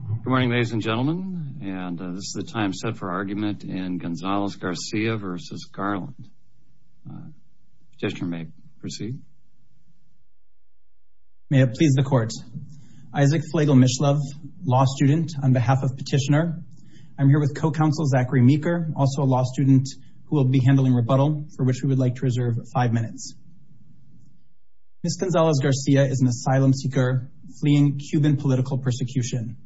Good morning ladies and gentlemen and this is the time set for argument in Gonzalez-Garcia v. Garland. Petitioner may proceed. May it please the court. Isaac Flagle-Mishlove, law student on behalf of petitioner. I'm here with co-counsel Zachary Meeker, also a law student who will be handling rebuttal for which we would like to reserve five minutes. Ms. Gonzalez-Garcia is an prosecution.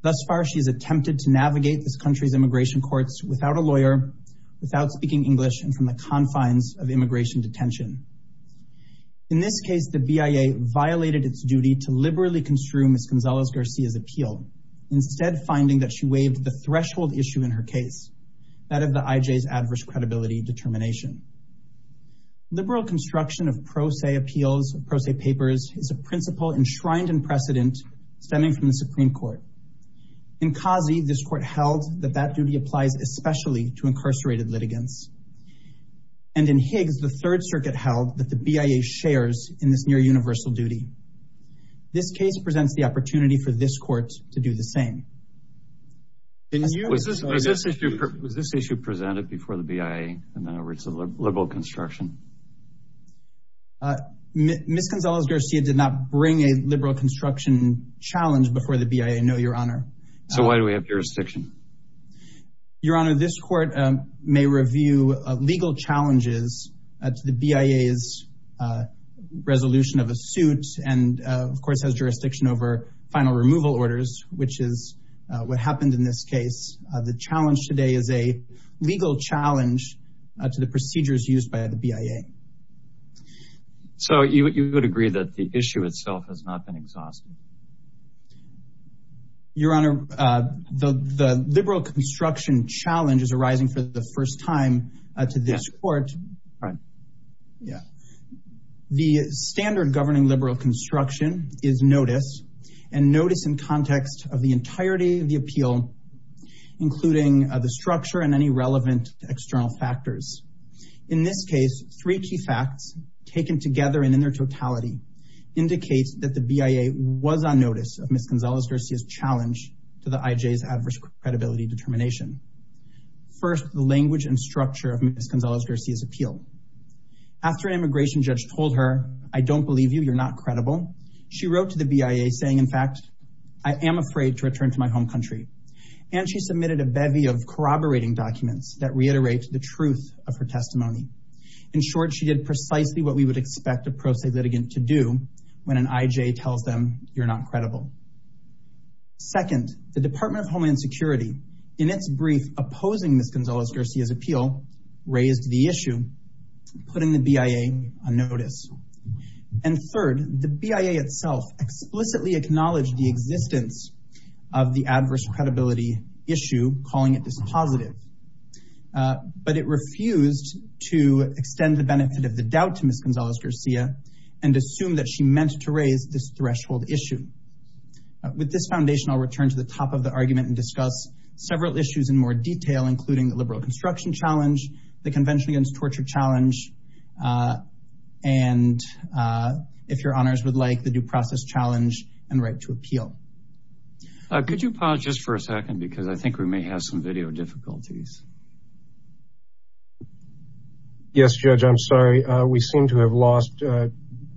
Thus far she has attempted to navigate this country's immigration courts without a lawyer, without speaking English, and from the confines of immigration detention. In this case the BIA violated its duty to liberally construe Ms. Gonzalez-Garcia's appeal, instead finding that she waived the threshold issue in her case, that of the IJ's adverse credibility determination. Liberal construction of pro se appeals, pro se papers, is a principle enshrined in precedent stemming from the Supreme Court. In Kazi, this court held that that duty applies especially to incarcerated litigants. And in Higgs, the Third Circuit held that the BIA shares in this near universal duty. This case presents the opportunity for this court to do the same. Was this issue presented before the BIA and then over to liberal construction? Ms. Gonzalez-Garcia did not bring a liberal construction challenge before the BIA, no, Your Honor. So why do we have jurisdiction? Your Honor, this court may review legal challenges to the BIA's resolution of a suit, and of course has jurisdiction over final removal orders, which is what happened in this case. The challenge today is a legal challenge to the procedures used by the BIA. So you would agree that the issue itself has not been exhausted? Your Honor, the liberal construction challenge is arising for the first time to this court. Right. Yeah. The standard governing liberal construction is notice, and notice in context of the entirety of the appeal, including the structure and any relevant external factors. In this case, three key facts taken together and in their totality indicates that the BIA was on notice of Ms. Gonzalez-Garcia's challenge to the IJ's adverse credibility determination. First, the language and structure of Ms. Gonzalez-Garcia's appeal. After an immigration judge told her, I don't believe you, you're not credible, she wrote to the BIA saying, in fact, I am afraid to return to my home country. And she submitted a bevy of corroborating documents that reiterate the truth of her testimony. In short, she did precisely what we would expect a pro se litigant to do when an IJ tells them you're not credible. Second, the Department of Homeland Security, in its brief opposing Ms. Gonzalez-Garcia's appeal, raised the issue, putting the BIA on notice. And third, the BIA itself explicitly acknowledged the existence of the adverse credibility issue, calling it positive. But it refused to extend the benefit of the doubt to Ms. Gonzalez- Garcia and assume that she meant to raise this threshold issue. With this foundation, I'll return to the top of the argument and discuss several issues in more detail, including the liberal construction challenge, the convention against torture challenge, and, if your honors would like, the due process challenge and right to appeal. Could you pause just for a second? Because I think we may have some video difficulties. Yes, Judge, I'm sorry. We seem to have lost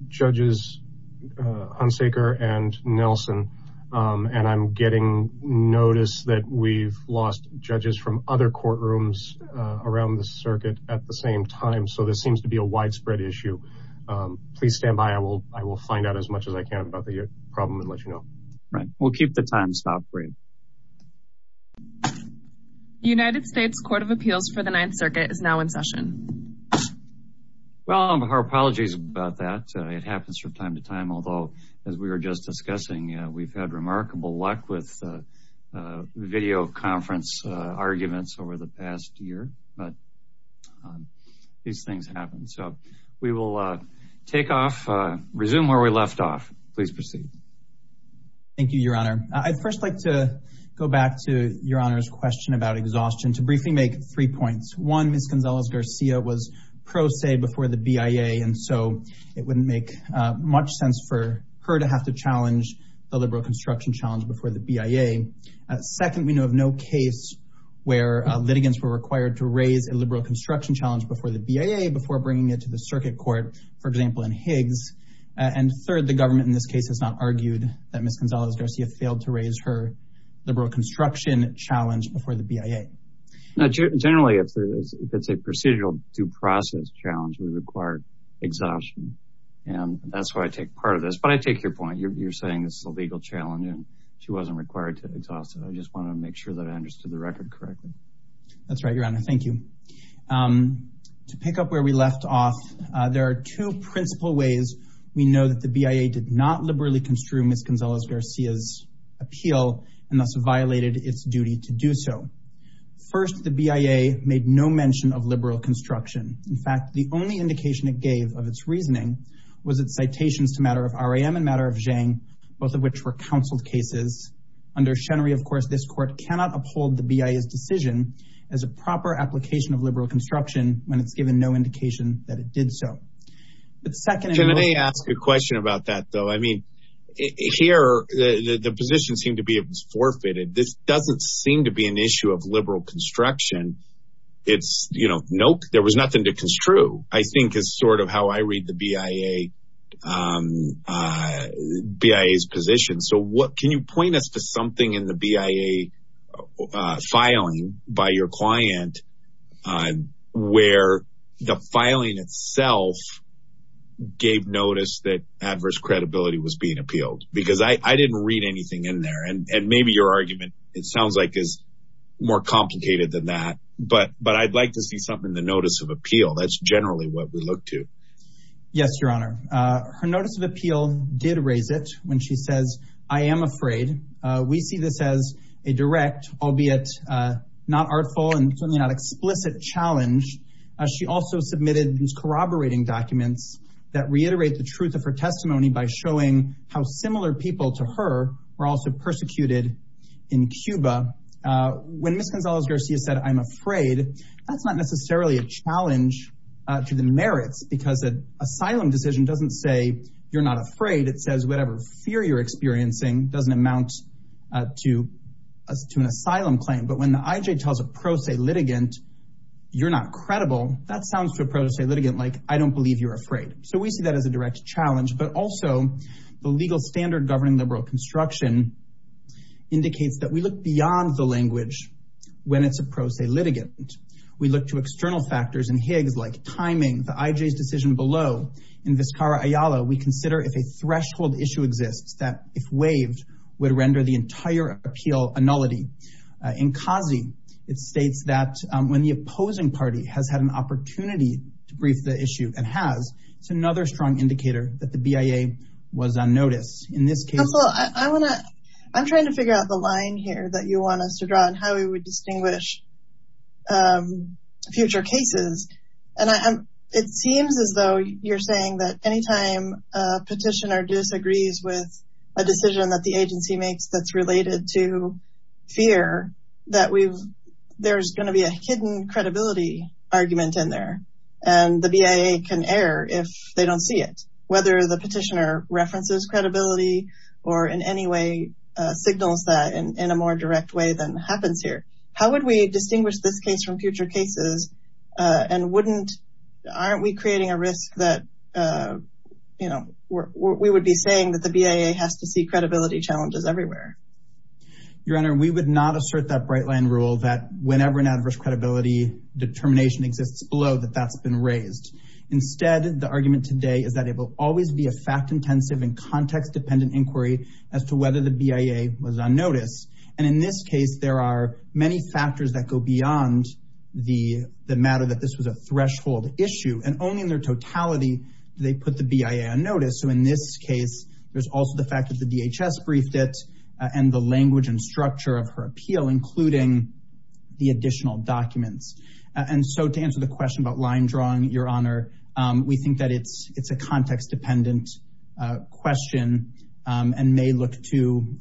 judges Hunsaker and Nelson. And I'm getting notice that we've lost judges from other courtrooms around the circuit at the same time. So this seems to be a widespread issue. Please stand by. I will find out as much as I can about the problem and let you know. We'll keep the time stop brief. United States Court of Appeals for the Ninth Circuit is now in session. Well, our apologies about that. It happens from time to time. Although, as we were just discussing, we've had remarkable luck with video conference arguments over the past year. But these things happen. So we will take off, resume where we left off. Please proceed. Thank you, Your Honor. I'd first like to go back to Your Honor's question about exhaustion to briefly make three points. One, Ms. Gonzalez-Garcia was pro se before the BIA. And so it wouldn't make much sense for her to have to challenge the liberal construction challenge before the BIA. Second, we know of no case where litigants were required to raise a liberal construction challenge before the BIA before bringing it to the circuit court, for example, in Higgs. And third, the government in this case has not argued that Ms. Gonzalez-Garcia failed to raise her liberal construction challenge before the BIA. Now, generally, if it's a procedural due process challenge, we require exhaustion. And that's why I take part of this. But I take your point. You're saying this is a legal challenge and she wasn't required to exhaust it. I just want to make sure that I understood the record correctly. That's right, Your Honor. Thank you. To pick up where we left off, there are two principal ways we know that the BIA did not liberally construe Ms. Gonzalez-Garcia's appeal and thus violated its duty to do so. First, the BIA made no mention of liberal construction. In fact, the only indication it gave of its reasoning was its citations to matter of R.A.M. and matter of Zhang, both of which were counseled cases. Under Shenry, of course, this court cannot uphold the BIA's decision as a proper application of liberal construction when it's given no indication that it did so. Can I ask a question about that, though? I mean, here, the position seemed to be it was forfeited. This doesn't seem to be an issue of liberal construction. It's, you know, nope, there was nothing to construe, I think is sort of how I read the BIA's position. So what can you point us to something in the BIA filing by your client where the filing itself gave notice that adverse credibility was being appealed? Because I didn't read anything in there. And maybe your argument, it sounds like, is more complicated than that. But I'd like to see something in the notice of appeal. That's generally what we look to. Yes, Your Honor. Her notice of appeal did raise it when she says, I am afraid. We see this as a direct, albeit not artful and certainly not explicit challenge. She also submitted these corroborating documents that reiterate the truth of her testimony by showing how similar people to her were also persecuted in Cuba. When Ms. Gonzalez-Garcia said, I'm afraid, that's not necessarily a challenge to the merits because an asylum decision doesn't say you're not afraid. It says whatever fear you're experiencing doesn't amount to an asylum claim. But when the IJ tells a pro se litigant, you're not credible, that sounds to a pro se litigant like, I don't believe you're afraid. So we see that as a direct challenge. But also, the legal standard governing liberal construction indicates that we look beyond the language when it's a pro se litigant. We look to external factors and Higgs like timing, the IJ's decision below. In Vizcarra-Ayala, we consider if a threshold issue exists that if waived, would render the entire appeal a nullity. In Kazi, it states that when the opposing party has had an opportunity to brief the issue and has, it's another strong indicator that the BIA was unnoticed. In this case... Counselor, I want to, I'm trying to figure out the line here that you want us to draw and how we would distinguish future cases. And it seems as though you're saying that anytime a petitioner disagrees with a decision that the agency makes that's related to fear, that we've, there's going to be a hidden credibility argument in there. And the BIA can err if they don't see it, whether the petitioner references credibility, or in any way, signals that in a more direct way than happens here. How would we distinguish this case from future cases? And wouldn't, aren't we creating a risk that, you know, we would be saying that the BIA has to see credibility challenges everywhere? Your Honor, we would not assert that bright line rule that whenever an adverse credibility determination exists below that that's been raised. Instead, the argument today is that it will always be a fact intensive and context dependent inquiry as to whether the BIA was on notice. And in this case, there are many factors that go beyond the matter that this was a threshold issue and only in their totality, they put the BIA on notice. So in this case, there's also the fact that the DHS briefed it and the language and structure of her appeal, including the additional documents. And so to answer the question about line drawing, Your Honor, we think that it's a context dependent question, and may look to,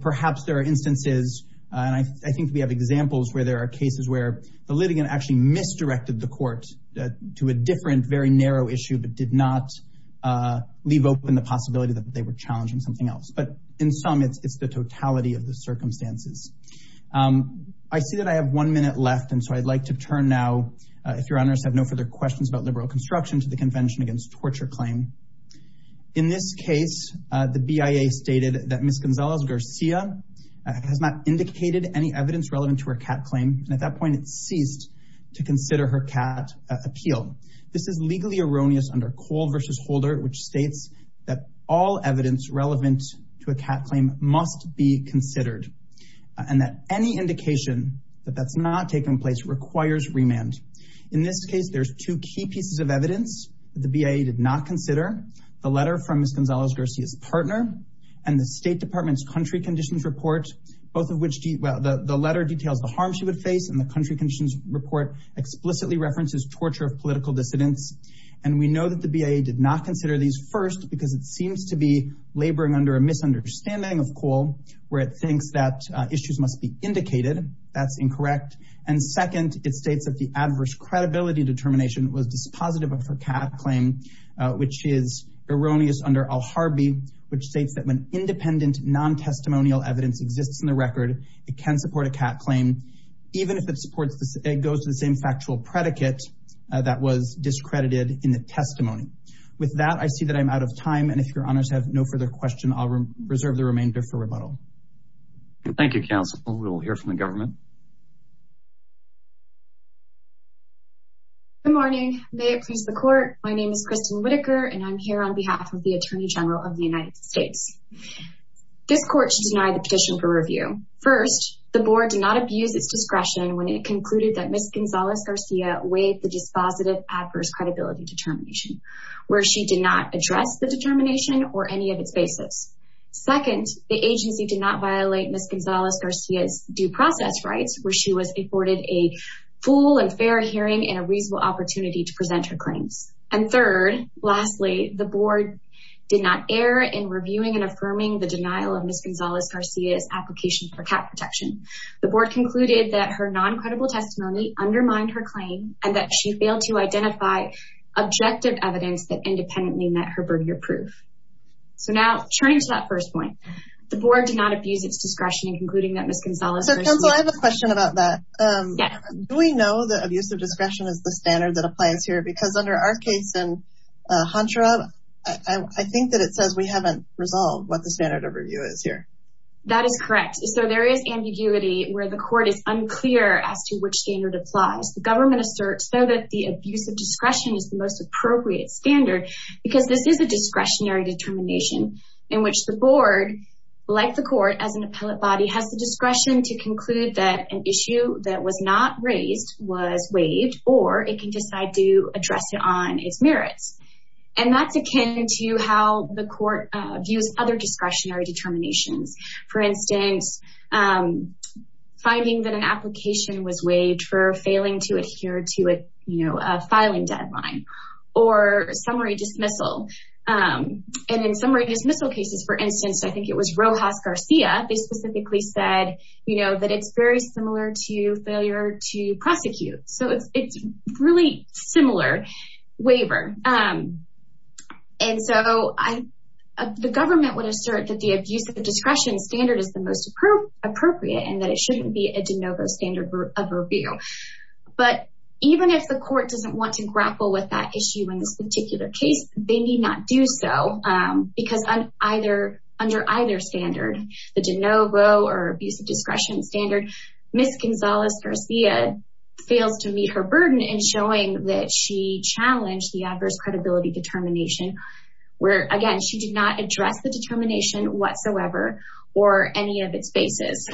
perhaps there are instances, and I think we have examples where there are cases where the litigant actually misdirected the court to a different, very narrow issue, but did not leave open the possibility that they were challenging something else. But in some, it's the totality of the circumstances. I see that I have one minute left. And so I'd like to turn now, if Your Honors have no further questions about liberal construction to the Convention Against Torture Claim. In this case, the BIA stated that Ms. Gonzalez-Garcia has not indicated any evidence relevant to her cat claim, and at that point it ceased to consider her cat appeal. This is legally erroneous under Cole v. Holder, which states that all evidence relevant to a cat claim must be considered, and that any indication that that's not taking place requires remand. In this case, there's two key pieces of evidence the BIA did not consider. The letter from Ms. Gonzalez-Garcia's partner, and the State Department's country conditions report, both of which, well, the letter details the harm she would face, and the country conditions report explicitly references torture of political dissidents. And we know that the BIA did not consider these first, because it seems to be laboring under a misunderstanding of Cole, where it thinks that issues must be indicated. That's incorrect. And second, it states that the adverse credibility determination was dispositive of her cat claim, which is erroneous under Al-Harbi, which states that when independent, non-testimonial evidence exists in the record, it can support a cat claim, even if it supports, it goes to the same factual predicate that was discredited in the testimony. With that, I see that I'm out of time, and if your honors have no further question, I'll reserve the remainder for rebuttal. Thank you, counsel. We'll hear from the government. Good morning. May it please the court, my name is Kristen Whitaker, and I'm here on behalf of the Attorney General of the United States. This court should deny the petition for review. First, the board did not abuse its discretion when it concluded that Ms. Gonzalez-Garcia weighed the dispositive adverse credibility determination, where she did not address the determination or any of Second, the agency did not violate Ms. Gonzalez-Garcia's due process rights, where she was afforded a full and fair hearing and a reasonable opportunity to present her claims. And third, lastly, the board did not err in reviewing and affirming the denial of Ms. Gonzalez-Garcia's application for cat protection. The board concluded that her non-credible testimony undermined her claim and that she failed to identify objective evidence that independently met her barrier proof. So now, turning to that first point, the board did not abuse its discretion in concluding that Ms. Gonzalez-Garcia- So, counsel, I have a question about that. Do we know that abuse of discretion is the standard that applies here? Because under our case in Honshirob, I think that it says we haven't resolved what the standard of review is here. That is correct. So there is ambiguity where the court is unclear as to which standard applies. The government asserts though that the abuse of discretion is the most appropriate standard because this is a discretionary determination in which the board, like the court as an appellate body, has the discretion to conclude that an issue that was not raised was waived or it can decide to address it on its merits. And that's akin to how the court views other discretionary determinations. For instance, finding that an application was or summary dismissal. And in summary dismissal cases, for instance, I think it was Rojas-Garcia, they specifically said that it's very similar to failure to prosecute. So it's really similar waiver. And so the government would assert that the abuse of discretion standard is the most appropriate and that it shouldn't be a de novo standard of review. But even if the court doesn't want to grapple with that issue in this particular case, they need not do so because under either standard, the de novo or abuse of discretion standard, Ms. Gonzalez-Garcia fails to meet her burden in showing that she challenged the adverse credibility determination where, again, she did not address the determination whatsoever or any of its basis.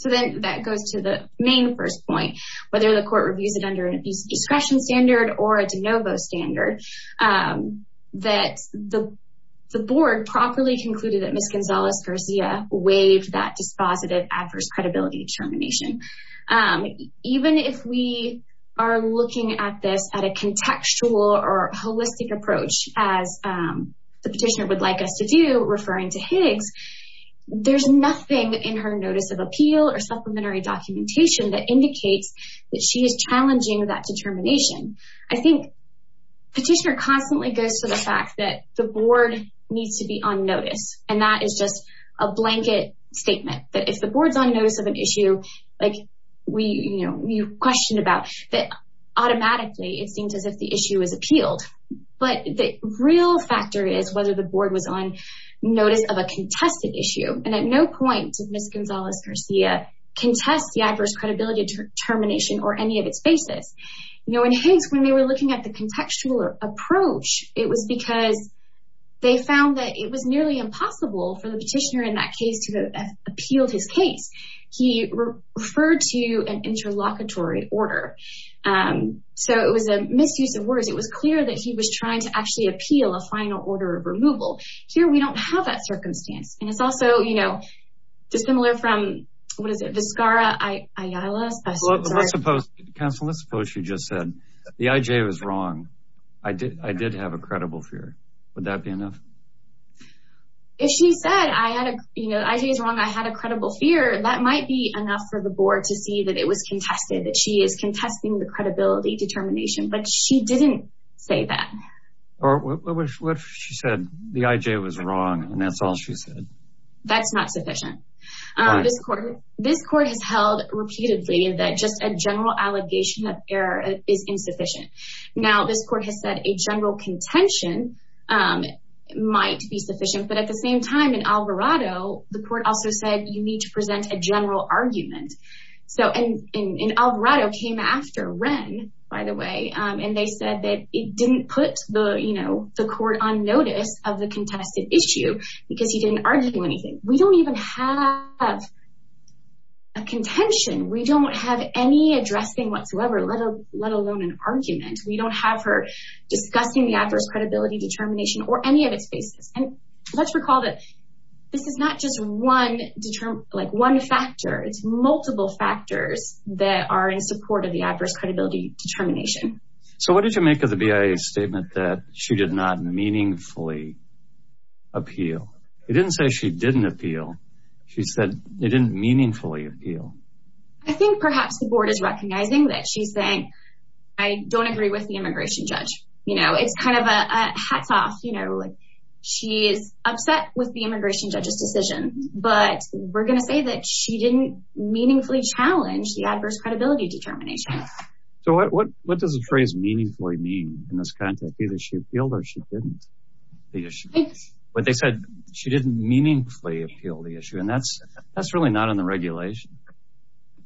So then that goes to the main first point, whether the court reviews it under an abuse of discretion standard or a de novo standard, that the board properly concluded that Ms. Gonzalez-Garcia waived that dispositive adverse credibility determination. Even if we are looking at this at a contextual or holistic approach, as the petitioner would like us to do referring to Higgs, there's nothing in her notice of appeal or supplementary documentation that indicates that she is challenging that determination. I think petitioner constantly goes to the fact that the board needs to be on notice. And that is just a blanket statement that if the board's on notice of an issue, like you questioned about, that automatically it seems as if the issue is appealed. But the real factor is whether the board was on notice of a contested issue. And at no point did Ms. Gonzalez-Garcia contest the adverse credibility determination or any of its basis. In Higgs, when they were looking at the contextual approach, it was because they found that it was nearly impossible for the petitioner in that case to have appealed his case. He referred to an interlocutory order. So it was a misuse of words. It was clear that he was trying to actually appeal a final order of circumstance. And it's also, you know, dissimilar from, what is it, Vizcara Ayala? Council, let's suppose she just said, the IJ was wrong. I did have a credible fear. Would that be enough? If she said, you know, the IJ is wrong, I had a credible fear, that might be enough for the board to see that it was contested, that she is contesting the credibility determination. But she said that's not sufficient. This court has held repeatedly that just a general allegation of error is insufficient. Now, this court has said a general contention might be sufficient. But at the same time, in Alvarado, the court also said you need to present a general argument. And Alvarado came after Wren, by the way, and they said that it didn't put the, you know, the argument. We don't even have a contention. We don't have any addressing whatsoever, let alone an argument. We don't have her discussing the adverse credibility determination or any of its basis. And let's recall that this is not just one factor. It's multiple factors that are in support of the adverse credibility determination. So what did you make of the BIA statement that she did not meaningfully appeal? It didn't say she didn't appeal. She said they didn't meaningfully appeal. I think perhaps the board is recognizing that she's saying, I don't agree with the immigration judge. You know, it's kind of a hats off, you know, like she is upset with the immigration judge's decision. But we're going to say that she didn't meaningfully challenge the adverse credibility determination. So what does the phrase meaningfully mean in this context? Either she appealed or she didn't. But they said she didn't meaningfully appeal the issue. And that's that's really not in the regulation.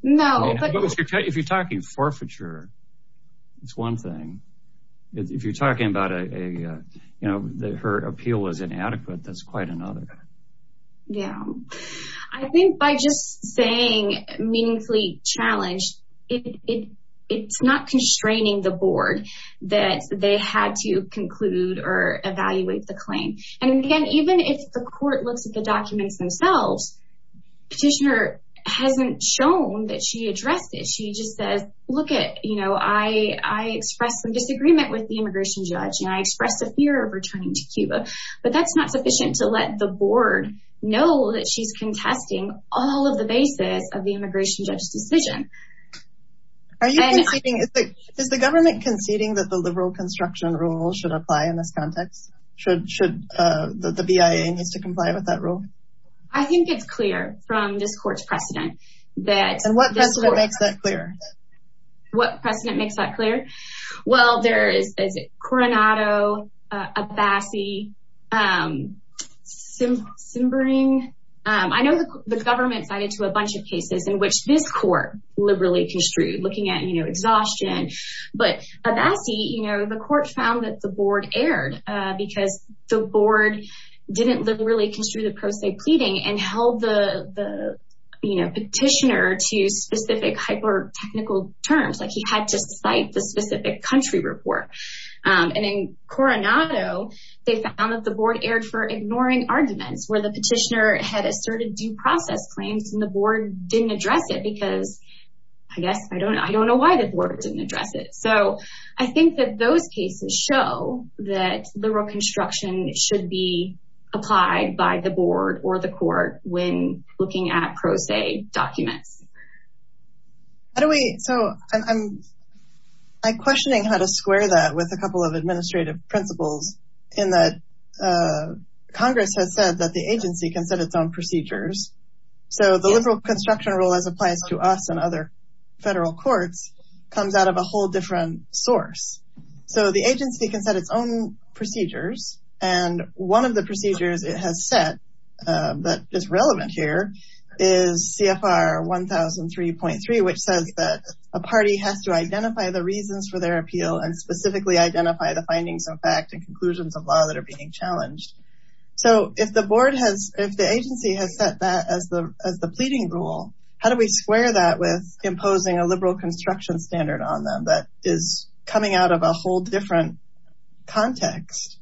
No, but if you're talking forfeiture, it's one thing. If you're talking about a, you know, her appeal was inadequate, that's quite another. Yeah, I think by just saying meaningfully challenged, it's not constraining the board that they had to conclude or evaluate the claim. And again, even if the court looks at the documents themselves, petitioner hasn't shown that she addressed it. She just says, look at, you know, I expressed some disagreement with the immigration judge and I expressed a fear of returning to Cuba. But that's not sufficient to let the board know that she's contesting all of the basis of the immigration judge's decision. Are you conceding, is the government conceding that the liberal construction rule should apply in this context? Should the BIA needs to comply with that rule? I think it's clear from this court's precedent that... And what precedent makes that clear? What precedent makes that clear? Well, there is Coronado, Abassi, Simbering. I know the government cited to a bunch of cases in which this court liberally construed, looking at, you know, exhaustion. But Abassi, you know, the court found that the board erred because the board didn't really construe the pro se pleading and held the, you know, petitioner to specific hyper technical terms, like he had to cite the specific country report. And in Coronado, they found that the board erred for ignoring arguments where the petitioner had asserted due process claims and the board didn't address it because, I guess, I don't know. I don't know why the board didn't address it. So I think that those cases show that liberal construction should be applied by the board or the court when looking at pro se documents. How do we... So I'm questioning how to square that with a couple of administrative principles in that Congress has said that the agency can set its own procedures. So the liberal construction rule, as applies to us and other federal courts, comes out of a whole different source. So the agency can set its own procedures. And one of the procedures it has set that is relevant here is CFR 1003.3, which says that a party has to identify the reasons for their appeal and specifically identify the findings of fact and conclusions of being challenged. So if the board has, if the agency has set that as the pleading rule, how do we square that with imposing a liberal construction standard on them that is coming out of a whole different context?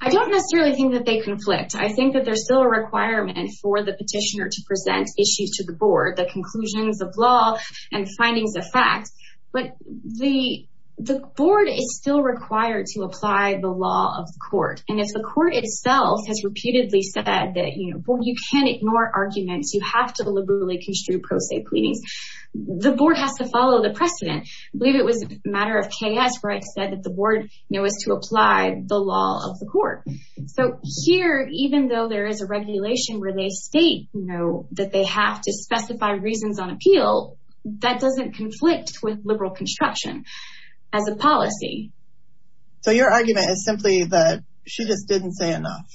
I don't necessarily think that they conflict. I think that there's still a requirement for the petitioner to present issues to the board, the conclusions of law and findings of facts. But the board is still required to apply the law of the court. And if the court itself has reputedly said that, you know, well, you can't ignore arguments, you have to liberally construe pro se pleadings, the board has to follow the precedent. I believe it was a matter of KS where it said that the board, you know, was to apply the law of the court. So here, even though there is a regulation where they state, you know, that they have to specify reasons on appeal, that doesn't conflict with liberal construction as a argument. It's simply that she just didn't say enough.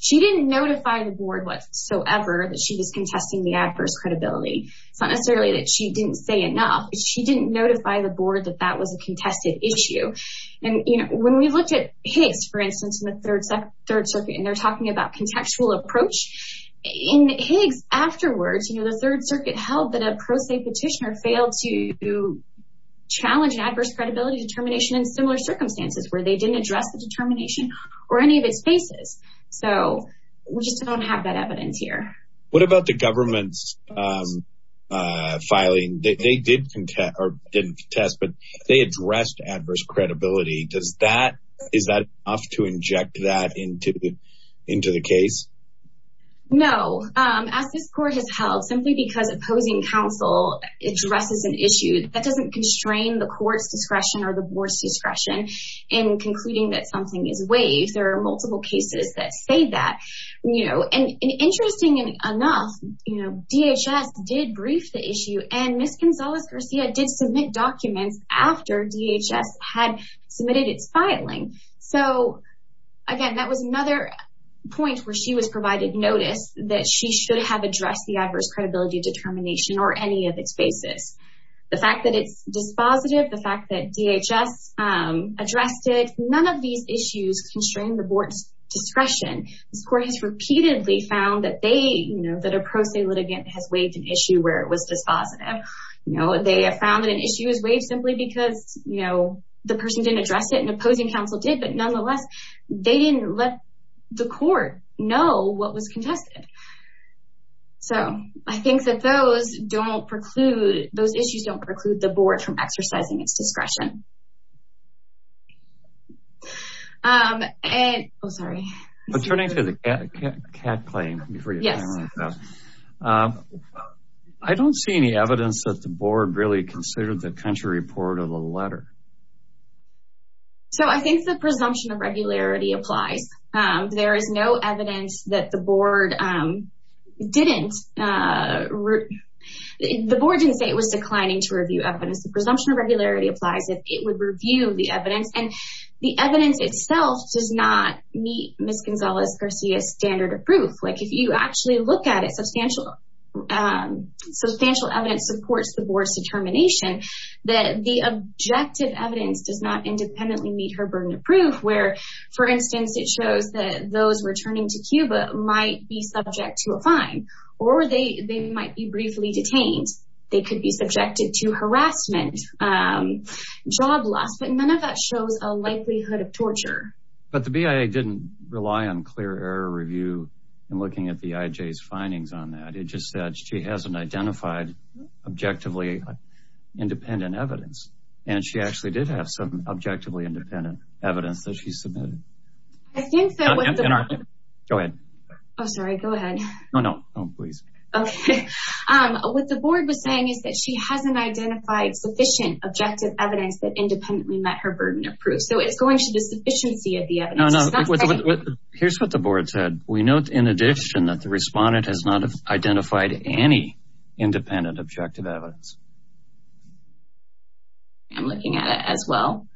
She didn't notify the board whatsoever that she was contesting the adverse credibility. It's not necessarily that she didn't say enough. She didn't notify the board that that was a contested issue. And, you know, when we looked at Higgs, for instance, in the Third Circuit, and they're talking about contextual approach. In Higgs afterwards, you know, the Third Circuit held that a pro se petitioner failed to challenge an adverse credibility determination in similar circumstances where they didn't address the determination or any of its faces. So we just don't have that evidence here. What about the government's filing? They did contest, or didn't contest, but they addressed adverse credibility. Does that, is that enough to inject that into, into the case? No. As this court has held, simply because opposing counsel addresses an issue, that doesn't constrain the court's discretion or the board's discretion in concluding that something is waived. There are multiple cases that say that, you know, and interesting enough, you know, DHS did brief the issue and Ms. Gonzalez- Garcia did submit documents after DHS had submitted its filing. So, again, that was another point where she was provided notice that she should have addressed the fact that it's dispositive, the fact that DHS addressed it. None of these issues constrain the board's discretion. This court has repeatedly found that they, you know, that a pro se litigant has waived an issue where it was dispositive. You know, they have found that an issue is waived simply because, you know, the person didn't address it and opposing counsel did, but nonetheless, they didn't let the court know what was contested. So I think that those don't preclude, those issues don't preclude the board from exercising its discretion. And, oh, sorry. But turning to the CAT claim, I don't see any evidence that the board really considered the country report of the letter. So I think the presumption of regularity applies. There is no evidence that the presumption of regularity applies if it would review the evidence. And the evidence itself does not meet Ms. Gonzalez-Garcia's standard of proof. Like, if you actually look at it, substantial evidence supports the board's determination that the objective evidence does not independently meet her burden of proof where, for instance, it shows that those returning to Cuba might be subject to a fine or they might be subject to harassment, job loss, but none of that shows a likelihood of torture. But the BIA didn't rely on clear error review in looking at the IJ's findings on that. It just said she hasn't identified objectively independent evidence. And she actually did have some objectively independent evidence that she submitted. I think that what the board was saying is that she hasn't identified sufficient objective evidence that independently met her burden of proof. So it's going to the sufficiency of the evidence. Here's what the board said. We note in addition that the respondent has not identified any independent objective evidence. I'm looking at it as well.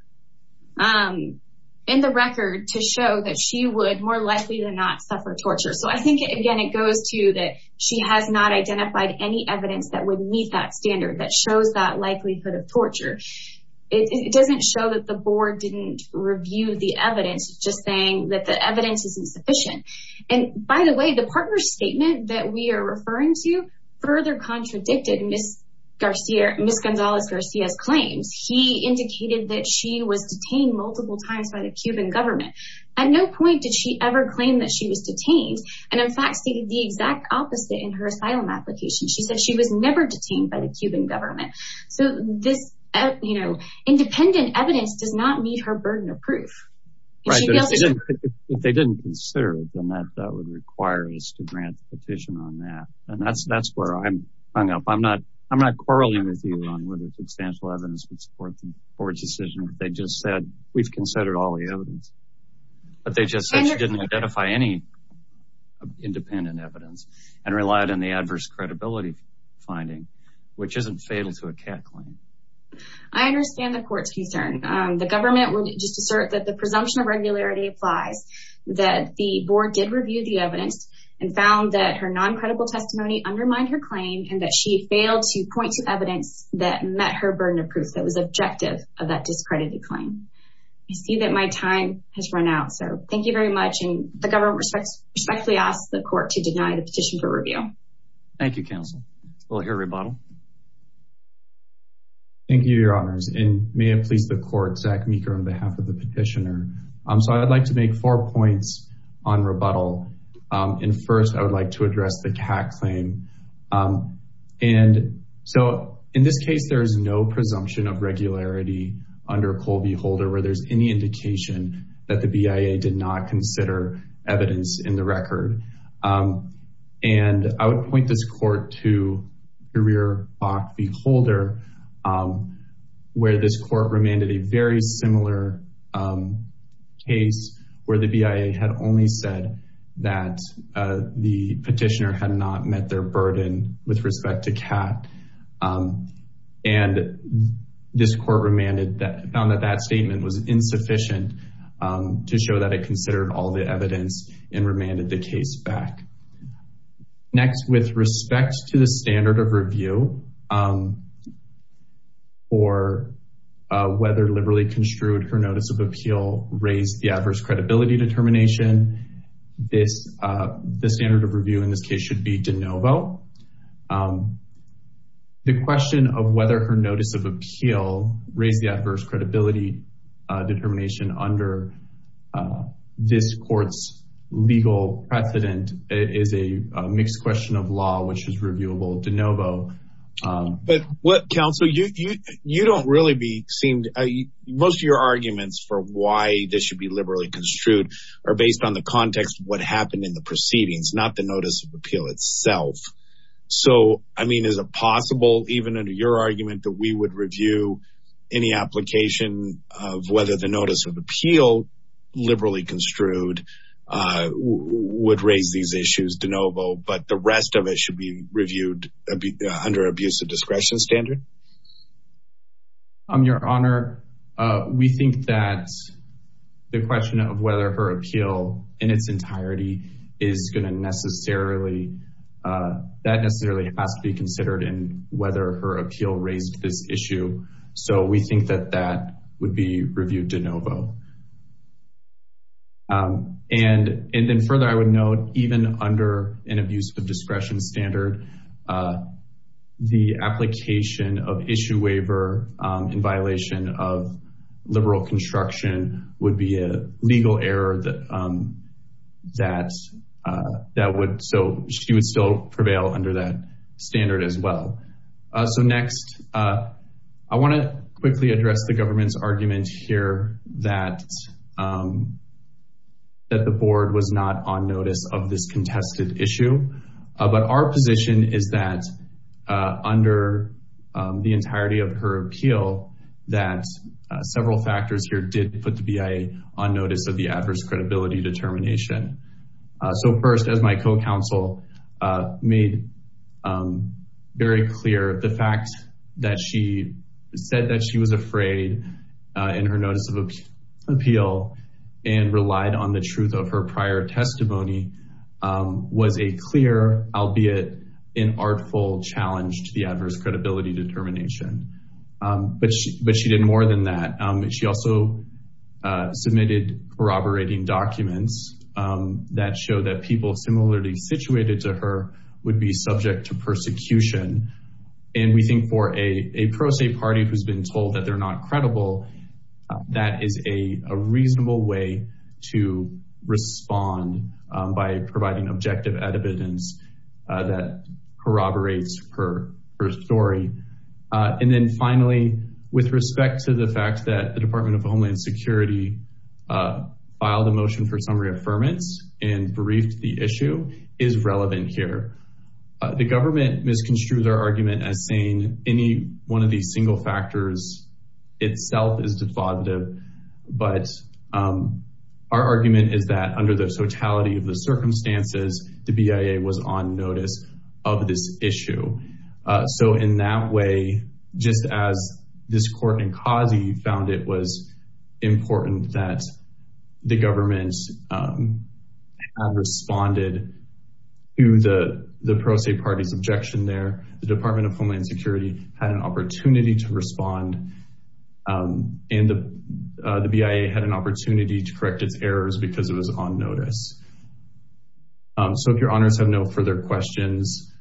In the record to show that she would more likely to not suffer torture. So I think, again, it goes to that she has not identified any evidence that would meet that standard that shows that likelihood of torture. It doesn't show that the board didn't review the evidence, just saying that the evidence isn't sufficient. And by the way, the partner's statement that we are referring to further contradicted Ms. Gonzalez-Garcia's claims. He indicated that she was detained multiple times by the Cuban government. At no point did she ever claim that she was detained. And in fact, stated the exact opposite in her asylum application. She said she was never detained by the Cuban government. So this, you know, independent evidence does not meet her burden of proof. If they didn't consider it, then that would require us to grant a petition on that. And that's that's where I'm hung up. I'm not I'm not quarreling with you on whether substantial evidence would support the board's decision. They just said we've considered all the evidence. But they just said she didn't identify any independent evidence and relied on the discredibility finding, which isn't fatal to a CAT claim. I understand the court's concern. The government would just assert that the presumption of regularity applies, that the board did review the evidence and found that her non-credible testimony undermined her claim and that she failed to point to evidence that met her burden of proof that was objective of that discredited claim. I see that my time has run out. So thank you very much. And the government respectfully asks the court to deny the petition for review. Thank you, counsel. We'll hear rebuttal. Thank you, your honors. And may it please the court, Zach Meeker on behalf of the petitioner. So I'd like to make four points on rebuttal. And first, I would like to address the CAT claim. And so in this case, there is no presumption of regularity under Colby Holder where there's any indication that the BIA did not consider evidence in the record. And I would point this court to career Bok v. Holder, where this court remanded a very similar case where the BIA had only said that the petitioner had not met their burden with respect to CAT. And this court remanded that, found that that statement was insufficient to show that it considered all the evidence and remanded the case back. Next, with respect to the standard of review for whether liberally construed her notice of appeal raised the adverse credibility determination, the standard of review in this case should be de novo. The question of whether her notice of appeal raised the adverse credibility determination under this court's legal precedent is a mixed question of law, which is reviewable de novo. But what counsel, you don't really seem to, most of your arguments for why this should be liberally construed are based on the context of what happened in the proceedings, not the notice of appeal itself. So, I mean, is it possible even under your argument that we would review any application of whether the notice of appeal liberally construed would raise these issues de novo, but the rest of it should be reviewed under abusive discretion standard? Your Honor, we think that the question of whether her appeal in its entirety is going to necessarily, that necessarily has to be considered in whether her appeal raised this issue. So we think that that would be reviewed de novo. And then further, I would note even under an abusive discretion standard, the application of issue waiver in violation of liberal construction would be a legal error that would, so she would still prevail under that standard as well. So next, I want to quickly address the government's argument here that the board was not on notice of this contested issue, but our position is that under the entirety of her appeal, that several factors here did put the BIA on notice of the adverse credibility determination. So first, as my co-counsel made very clear, the fact that she said that she was afraid in her notice of appeal and relied on the truth of her prior testimony was a clear, albeit an artful challenge to the adverse credibility determination, but she did more than that. She also submitted corroborating documents that show that people similarly situated to her would be subject to persecution. And we think for a pro se party who's been told that they're not credible, that is a reasonable way to respond by providing objective evidence that corroborates her story. And then finally, with respect to the fact that the Department of Homeland Security filed a motion for summary affirmance and briefed the issue is relevant here. The government misconstrued our argument as saying any one of these single factors itself is defaultive, but our argument is that under the totality of the circumstances, the BIA was on notice of this issue. So in that way, just as this court in Kazi found it was important that the government had responded to the pro se party's objection there, the Department of Homeland Security had an opportunity to respond and the BIA had an opportunity to correct its errors because it was on notice. So if your honors have no further questions,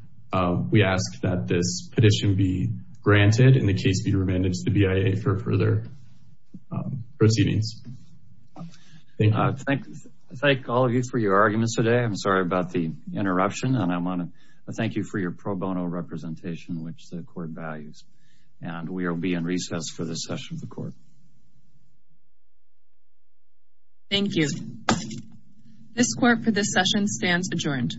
we ask that this petition be granted in the case, be remanded to the BIA for further proceedings. Thank you. I thank all of you for your arguments today. I'm sorry about the interruption and I want to thank you for your pro bono representation, which the court values, and we will be in recess for this session of the court. Thank you. Thank you. This court for this session stands adjourned.